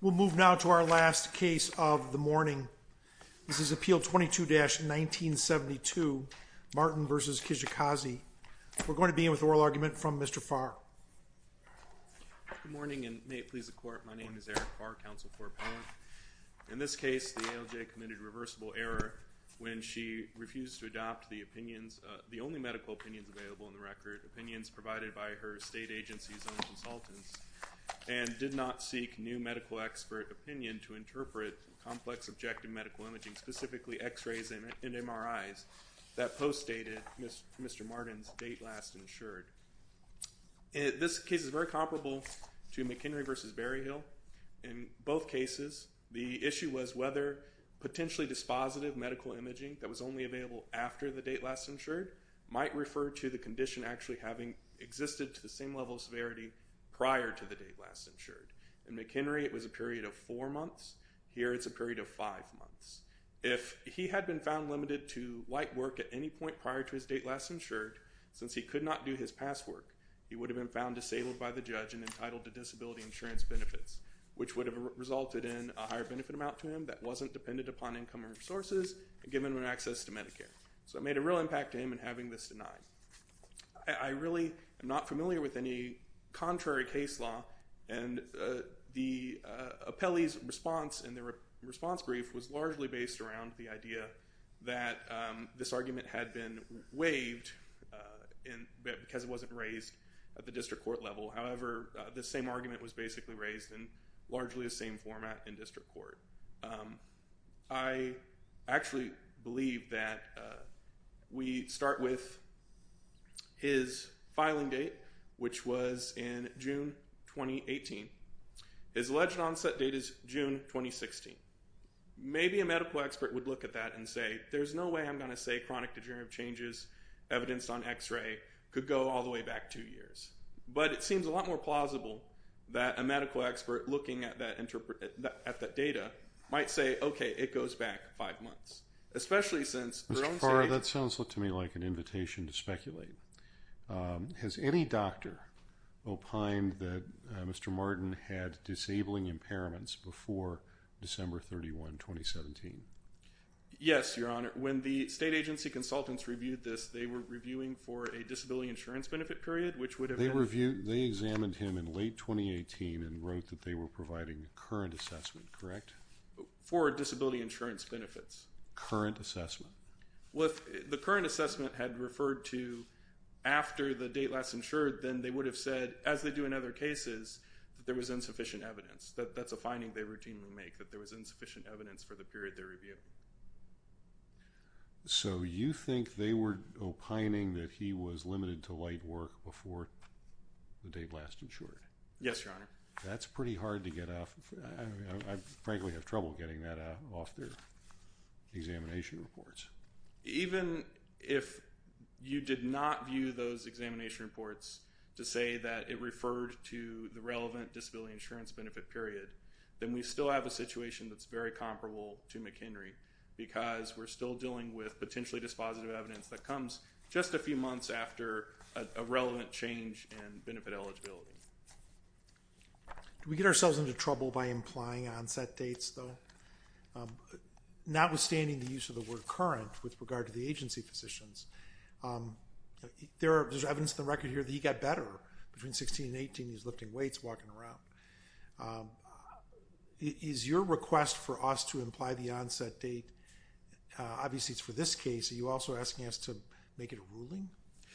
We'll move now to our last case of the morning. This is Appeal 22-1972 Martin v. Kijakazi. We're going to begin with oral argument from Mr. Farr. Good morning and may it please the Court, my name is Eric Farr, Counsel for Appellant. In this case, the ALJ committed reversible error when she refused to adopt the opinions, the only medical opinions available in the record, opinions provided by her state agency's own consultants, and did not seek new medical expert opinion to interpret complex objective medical imaging, specifically x-rays and MRIs that post-dated Mr. Martin's date last insured. This case is very comparable to McHenry v. Berryhill. In both cases, the issue was whether potentially dispositive medical imaging that was only available after the date last insured might refer to the condition actually having existed to the same level of severity prior to the date last insured. In McHenry, it was a period of four months. Here, it's a period of five months. If he had been found limited to light work at any point prior to his date last insured, since he could not do his past work, he would have been found disabled by the judge and entitled to disability insurance benefits, which would have resulted in a higher benefit amount to him that wasn't dependent upon income and resources and given him access to Medicare. So it made a real impact to him in having this denied. I really am not familiar with any contrary case law, and the appellee's response in the response brief was largely based around the idea that this argument had been waived because it wasn't raised at the district court level. However, the same argument was basically raised in largely the same format in district court. I actually believe that we start with his filing date, which was in June 2018. His alleged onset date is June 2016. Maybe a medical expert would look at that and say, there's no way I'm going to say chronic degenerative changes evidenced on x-ray could go all the way back two years. But it seems a lot more plausible that a medical expert looking at that data might say, okay, it goes back five months, especially since their own state… Mr. Farr, that sounds to me like an invitation to speculate. Has any doctor opined that Mr. Martin had disabling impairments before December 31, 2017? Yes, Your Honor. When the state agency consultants reviewed this, they were reviewing for a disability insurance benefit period, which would have been… They examined him in late 2018 and wrote that they were providing a current assessment, correct? For disability insurance benefits. Current assessment. Well, if the current assessment had referred to after the date last insured, then they would have said, as they do in other cases, that there was insufficient evidence. That's a finding they routinely make, that there was insufficient evidence for the period they review. So you think they were opining that he was limited to light work before the date last insured? Yes, Your Honor. That's pretty hard to get off. I frankly have trouble getting that off their examination reports. Even if you did not view those examination reports to say that it referred to the relevant disability insurance benefit period, then we still have a situation that's very comparable to McHenry because we're still dealing with potentially dispositive evidence that comes just a few months after a relevant change in benefit eligibility. Do we get ourselves into trouble by implying onset dates, though? Notwithstanding the use of the word current with regard to the agency physicians, there's evidence on the record here that he got better between 16 and 18. He was lifting weights, walking around. Is your request for us to imply the onset date, obviously it's for this case, are you also asking us to make it a ruling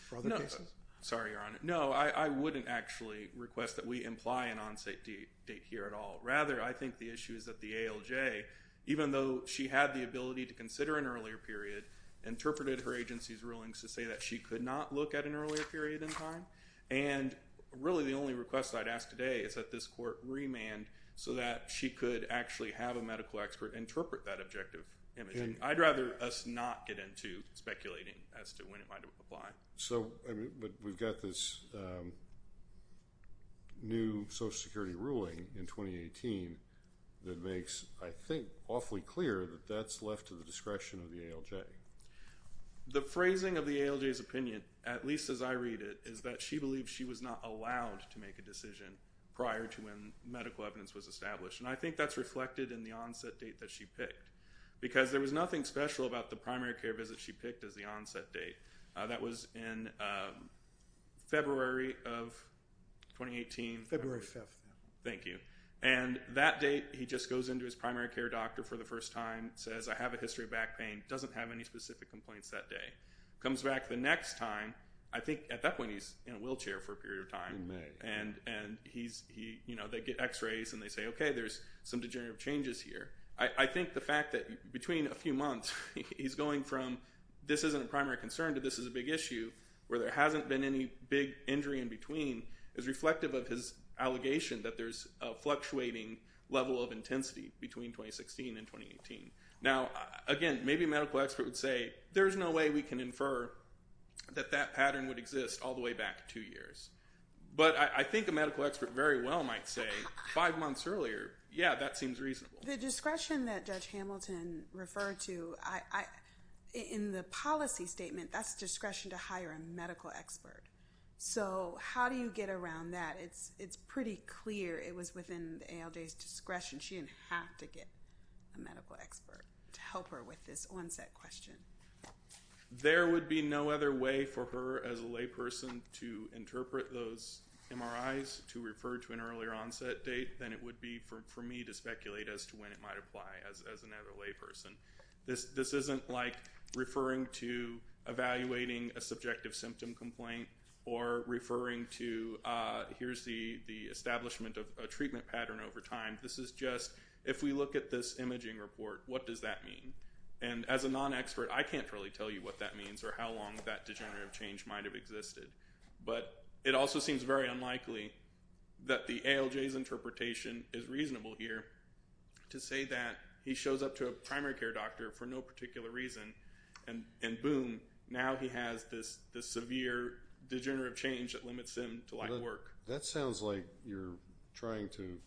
for other cases? No. Sorry, Your Honor. No, I wouldn't actually request that we imply an onset date here at all. Rather, I think the issue is that the ALJ, even though she had the ability to consider an earlier period, interpreted her agency's rulings to say that she could not look at an earlier period in time, and really the only request I'd ask today is that this court remand so that she could actually have a medical expert interpret that objective imaging. I'd rather us not get into speculating as to when it might apply. But we've got this new Social Security ruling in 2018 that makes, I think, awfully clear that that's left to the discretion of the ALJ. The phrasing of the ALJ's opinion, at least as I read it, is that she believes she was not allowed to make a decision prior to when medical evidence was established, and I think that's reflected in the onset date that she picked because there was nothing special about the primary care visit she picked as the onset date. That was in February of 2018. February 5th. Thank you. And that date, he just goes into his primary care doctor for the first time, says, I have a history of back pain, doesn't have any specific complaints that day. Comes back the next time, I think at that point he's in a wheelchair for a period of time. In May. And they get x-rays and they say, okay, there's some degenerative changes here. I think the fact that between a few months he's going from this isn't a primary concern to this is a big issue where there hasn't been any big injury in between is reflective of his allegation that there's a fluctuating level of intensity between 2016 and 2018. Now, again, maybe a medical expert would say, there's no way we can infer that that pattern would exist all the way back two years. But I think a medical expert very well might say five months earlier, yeah, that seems reasonable. The discretion that Judge Hamilton referred to, in the policy statement, that's discretion to hire a medical expert. So how do you get around that? It's pretty clear it was within the ALJ's discretion. She didn't have to get a medical expert to help her with this onset question. There would be no other way for her, as a layperson, to interpret those MRIs to refer to an earlier onset date than it would be for me to speculate as to when it might apply as another layperson. This isn't like referring to evaluating a subjective symptom complaint or referring to here's the establishment of a treatment pattern over time. This is just if we look at this imaging report, what does that mean? And as a non-expert, I can't really tell you what that means or how long that degenerative change might have existed. But it also seems very unlikely that the ALJ's interpretation is reasonable here to say that he shows up to a primary care doctor for no particular reason and boom, now he has this severe degenerative change that limits him to light work. That sounds like you're trying to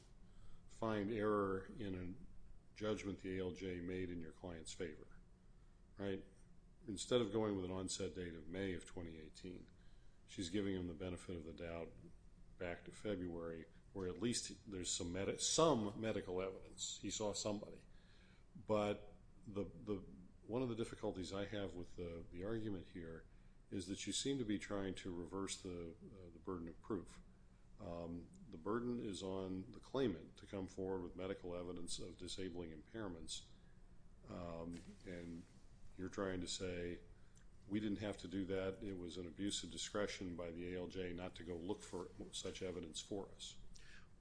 find error in a judgment the ALJ made in your client's favor. Instead of going with an onset date of May of 2018, she's giving him the benefit of the doubt back to February where at least there's some medical evidence, he saw somebody. But one of the difficulties I have with the argument here is that you seem to be trying to reverse the burden of proof. The burden is on the claimant to come forward with medical evidence of disabling impairments and you're trying to say we didn't have to do that. It was an abuse of discretion by the ALJ not to go look for such evidence for us.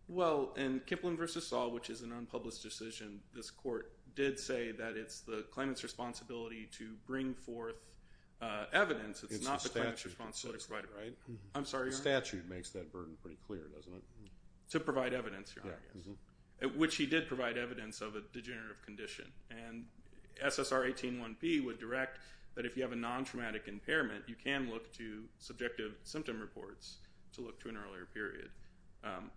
Well, in Kipling v. Saul, which is an unpublished decision, this court did say that it's the claimant's responsibility to bring forth evidence. It's not the claimant's responsibility to provide it, right? I'm sorry, Your Honor. The statute makes that burden pretty clear, doesn't it? To provide evidence, Your Honor, I guess. Which he did provide evidence of a degenerative condition. And SSR 18-1P would direct that if you have a non-traumatic impairment, you can look to subjective symptom reports to look to an earlier period.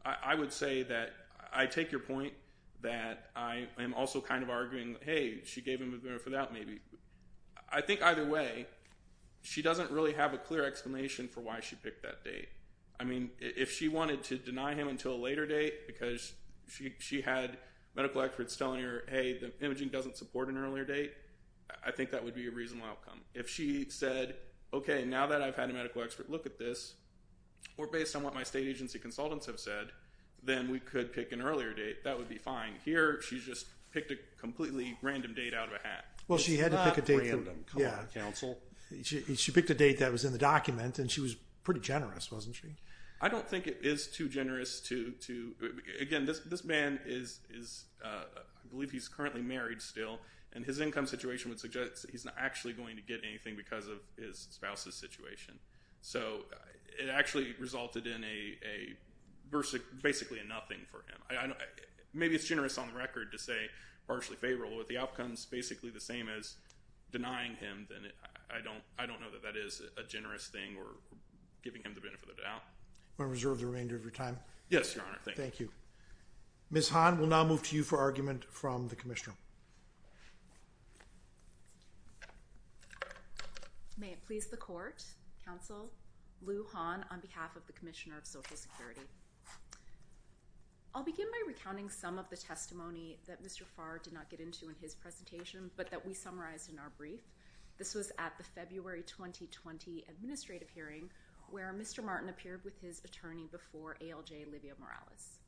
I would say that I take your point that I am also kind of arguing, hey, she gave him the benefit of the doubt maybe. I think either way, she doesn't really have a clear explanation for why she picked that date. I mean, if she wanted to deny him until a later date because she had medical experts telling her, hey, the imaging doesn't support an earlier date, I think that would be a reasonable outcome. If she said, okay, now that I've had a medical expert look at this, or based on what my state agency consultants have said, then we could pick an earlier date. That would be fine. Here, she just picked a completely random date out of a hat. Well, she had to pick a date. It's not random. Come on, counsel. She picked a date that was in the document, and she was pretty generous, wasn't she? I don't think it is too generous to, again, this man is, I believe he's currently married still, and his income situation would suggest that he's not actually going to get anything because of his spouse's situation. So it actually resulted in basically a nothing for him. Maybe it's generous on the record to say partially favorable, but if the outcome is basically the same as denying him, then I don't know that that is a generous thing or giving him the benefit of the doubt. Do you want to reserve the remainder of your time? Yes, Your Honor. Thank you. Thank you. Ms. Hahn, we'll now move to you for argument from the Commissioner. May it please the Court, Counsel, Lou Hahn on behalf of the Commissioner of Social Security. I'll begin by recounting some of the testimony that Mr. Farr did not get into in his presentation, but that we summarized in our brief. This was at the February 2020 administrative hearing, where Mr. Martin appeared with his attorney before ALJ, Livia Morales.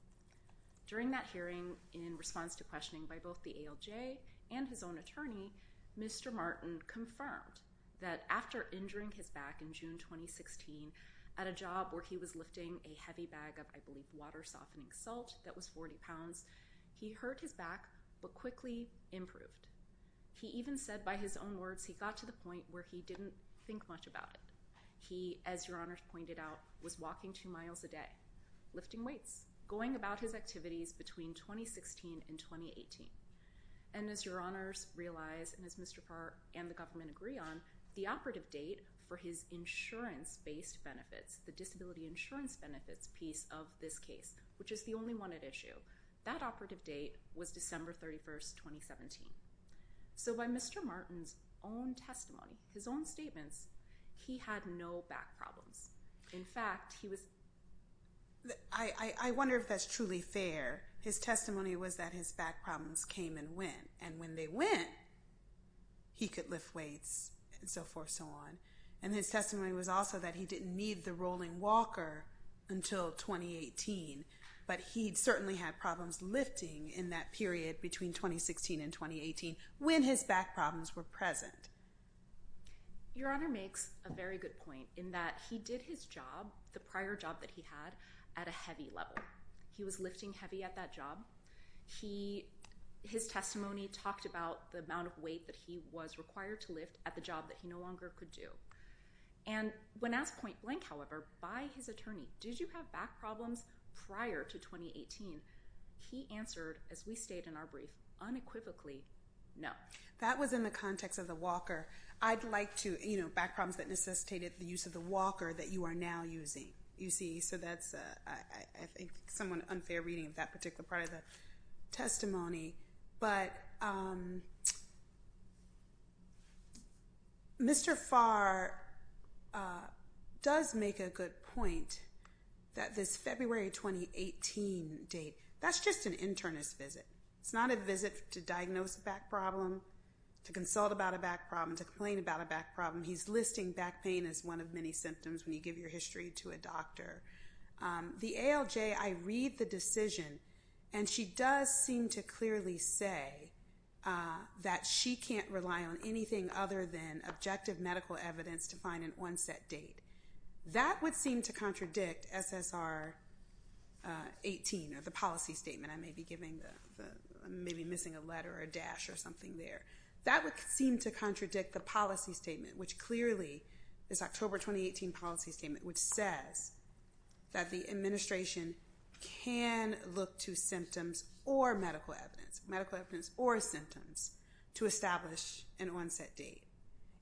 During that hearing, in response to questioning by both the ALJ and his own attorney, Mr. Martin confirmed that after injuring his back in June 2016 at a job where he was lifting a heavy bag of, I believe, water-softening salt that was 40 pounds, he hurt his back but quickly improved. He even said by his own words he got to the point where he didn't think much about it. He, as Your Honors pointed out, was walking two miles a day, lifting weights, going about his activities between 2016 and 2018. And as Your Honors realize, and as Mr. Farr and the government agree on, the operative date for his insurance-based benefits, the disability insurance benefits piece of this case, which is the only one at issue, that operative date was December 31, 2017. So by Mr. Martin's own testimony, his own statements, he had no back problems. In fact, he was... I wonder if that's truly fair. His testimony was that his back problems came and went, and when they went, he could lift weights and so forth and so on. And his testimony was also that he didn't need the rolling walker until 2018, but he certainly had problems lifting in that period between 2016 and 2018 when his back problems were present. Your Honor makes a very good point in that he did his job, the prior job that he had, at a heavy level. He was lifting heavy at that job. His testimony talked about the amount of weight that he was required to lift at the job that he no longer could do. And when asked point blank, however, by his attorney, did you have back problems prior to 2018? He answered, as we state in our brief, unequivocally, no. That was in the context of the walker. I'd like to, you know, back problems that necessitated the use of the walker that you are now using, you see. So that's, I think, somewhat unfair reading of that particular part of the testimony. But Mr. Farr does make a good point that this February 2018 date, that's just an internist visit. It's not a visit to diagnose a back problem, to consult about a back problem, to complain about a back problem. He's listing back pain as one of many symptoms when you give your history to a doctor. The ALJ, I read the decision, and she does seem to clearly say that she can't rely on anything other than objective medical evidence to find an onset date. That would seem to contradict SSR 18, or the policy statement. I may be missing a letter or a dash or something there. That would seem to contradict the policy statement, which clearly, this October 2018 policy statement, which says that the administration can look to symptoms or medical evidence, medical evidence or symptoms, to establish an onset date.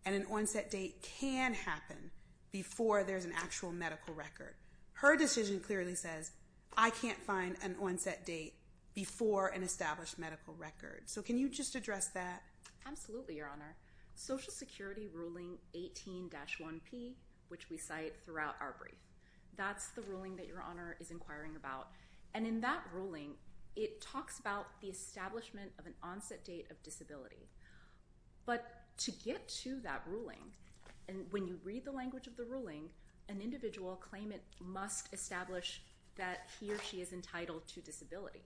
And an onset date can happen before there's an actual medical record. Her decision clearly says, I can't find an onset date before an established medical record. So can you just address that? Absolutely, Your Honor. Social Security ruling 18-1P, which we cite throughout our brief, that's the ruling that Your Honor is inquiring about. And in that ruling, it talks about the establishment of an onset date of disability. But to get to that ruling, when you read the language of the ruling, an individual claimant must establish that he or she is entitled to disability.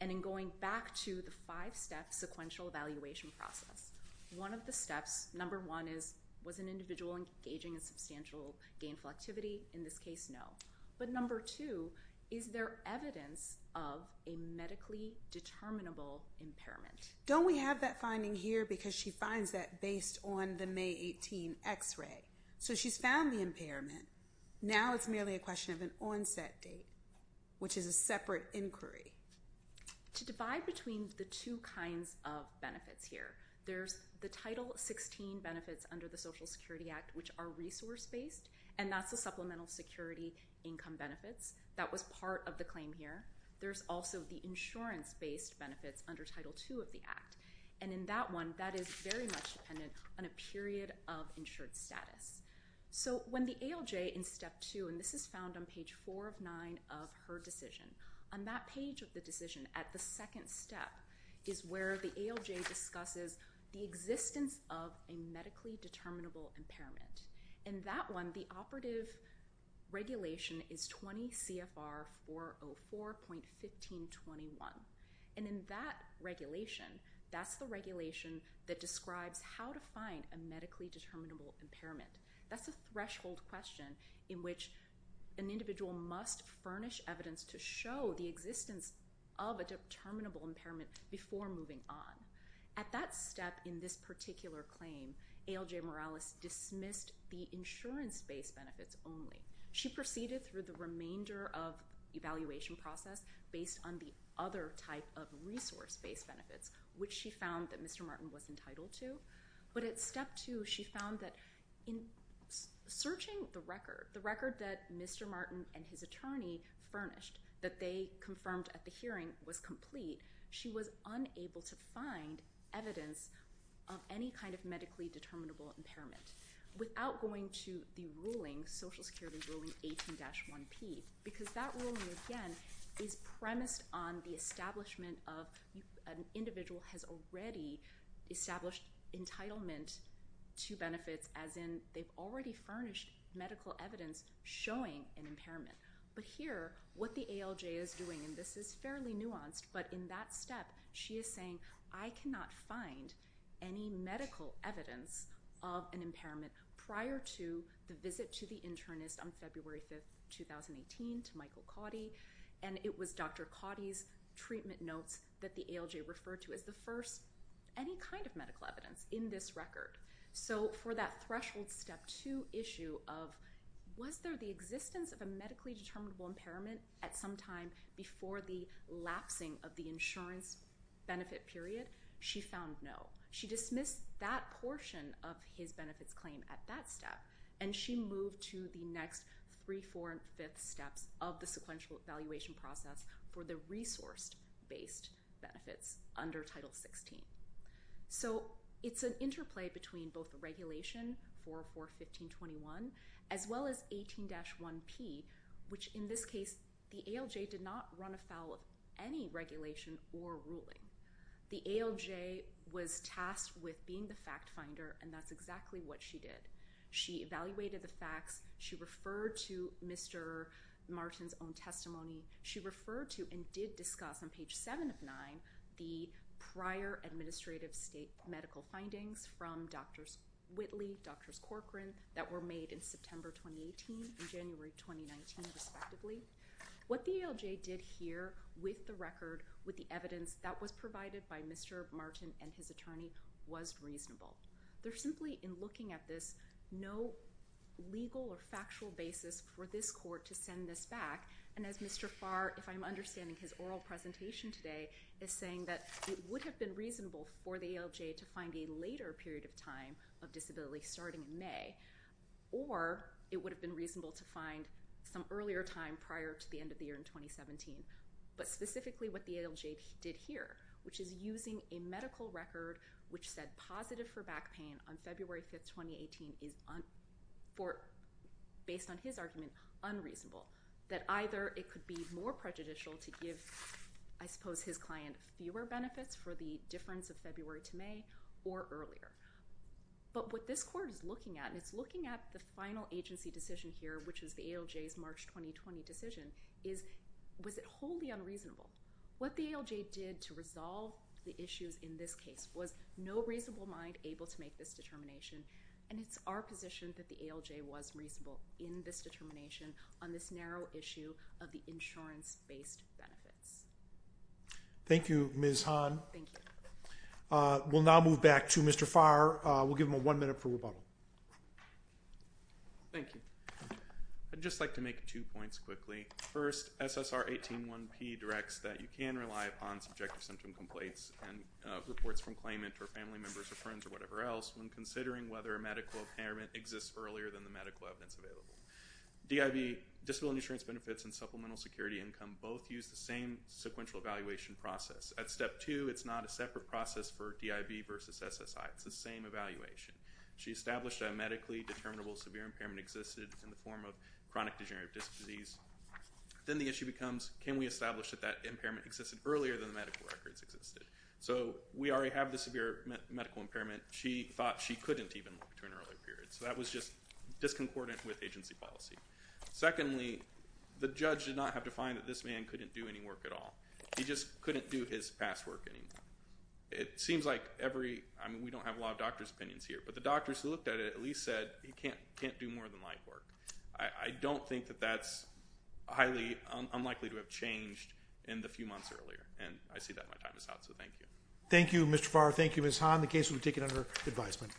And in going back to the five-step sequential evaluation process, one of the steps, number one is, was an individual engaging in substantial gainful activity? In this case, no. But number two, is there evidence of a medically determinable impairment? Don't we have that finding here? Because she finds that based on the May 18 X-ray. So she's found the impairment. Now it's merely a question of an onset date, which is a separate inquiry. To divide between the two kinds of benefits here, there's the Title 16 benefits under the Social Security Act, which are resource-based, and that's the supplemental security income benefits. That was part of the claim here. There's also the insurance-based benefits under Title 2 of the Act. And in that one, that is very much dependent on a period of insured status. So when the ALJ in Step 2, and this is found on Page 4 of 9 of her decision, on that page of the decision at the second step is where the ALJ discusses the existence of a medically determinable impairment. In that one, the operative regulation is 20 CFR 404.1521. And in that regulation, that's the regulation that describes how to find a medically determinable impairment. That's a threshold question in which an individual must furnish evidence to show the existence of a determinable impairment before moving on. At that step in this particular claim, ALJ Morales dismissed the insurance-based benefits only. She proceeded through the remainder of the evaluation process based on the other type of resource-based benefits, which she found that Mr. Martin was entitled to. But at Step 2, she found that in searching the record, the record that Mr. Martin and his attorney furnished that they confirmed at the hearing was complete, she was unable to find evidence of any kind of medically determinable impairment without going to the ruling, Social Security Ruling 18-1P, because that ruling, again, is premised on the establishment of an individual has already established entitlement to benefits, as in they've already furnished medical evidence showing an impairment. But here, what the ALJ is doing, and this is fairly nuanced, but in that step, she is saying, I cannot find any medical evidence of an impairment prior to the visit to the internist on February 5, 2018, to Michael Cotty, and it was Dr. Cotty's treatment notes that the ALJ referred to as the first, any kind of medical evidence in this record. So for that threshold Step 2 issue of was there the existence of a medically determinable impairment at some time before the lapsing of the insurance benefit period, she found no. She dismissed that portion of his benefits claim at that step, and she moved to the next three, four, and fifth steps of the sequential evaluation process for the resource-based benefits under Title 16. So it's an interplay between both the regulation, 4.4.15.21, as well as 18-1P, which in this case, the ALJ did not run afoul of any regulation or ruling. The ALJ was tasked with being the fact finder, and that's exactly what she did. She evaluated the facts. She referred to Mr. Martin's own testimony. She referred to and did discuss on page 7 of 9 the prior administrative state medical findings from Drs. Whitley, Drs. Corcoran, that were made in September 2018 and January 2019, respectively. What the ALJ did here with the record, with the evidence that was provided by Mr. Martin and his attorney, was reasonable. They're simply, in looking at this, no legal or factual basis for this court to send this back. And as Mr. Farr, if I'm understanding his oral presentation today, is saying that it would have been reasonable for the ALJ to find a later period of time of disability starting in May, or it would have been reasonable to find some earlier time prior to the end of the year in 2017. But specifically what the ALJ did here, which is using a medical record which said positive for back pain on February 5th, 2018, based on his argument, unreasonable. That either it could be more prejudicial to give, I suppose, his client fewer benefits for the difference of February to May, or earlier. But what this court is looking at, and it's looking at the final agency decision here, which is the ALJ's March 2020 decision, is was it wholly unreasonable? What the ALJ did to resolve the issues in this case was no reasonable mind able to make this determination. And it's our position that the ALJ was reasonable in this determination on this narrow issue of the insurance-based benefits. Thank you, Ms. Hahn. Thank you. We'll now move back to Mr. Farr. We'll give him one minute for rebuttal. Thank you. I'd just like to make two points quickly. First, SSR 18-1P directs that you can rely upon subjective symptom complaints and reports from claimant or family members or friends or whatever else when considering whether a medical impairment exists earlier than the medical evidence available. DIB, disability insurance benefits, and supplemental security income both use the same sequential evaluation process. At step two, it's not a separate process for DIB versus SSI. It's the same evaluation. She established a medically determinable severe impairment existed in the form of chronic degenerative disc disease. Then the issue becomes can we establish that that impairment existed earlier than the medical records existed. So we already have the severe medical impairment. She thought she couldn't even look to an earlier period. So that was just disconcordant with agency policy. Secondly, the judge did not have to find that this man couldn't do any work at all. He just couldn't do his past work anymore. It seems like every we don't have a lot of doctor's opinions here, but the doctors who looked at it at least said he can't do more than life work. I don't think that that's highly unlikely to have changed in the few months earlier, and I see that my time is up. So thank you. Thank you, Mr. Farr. Thank you, Ms. Hahn. The case will be taken under advisement.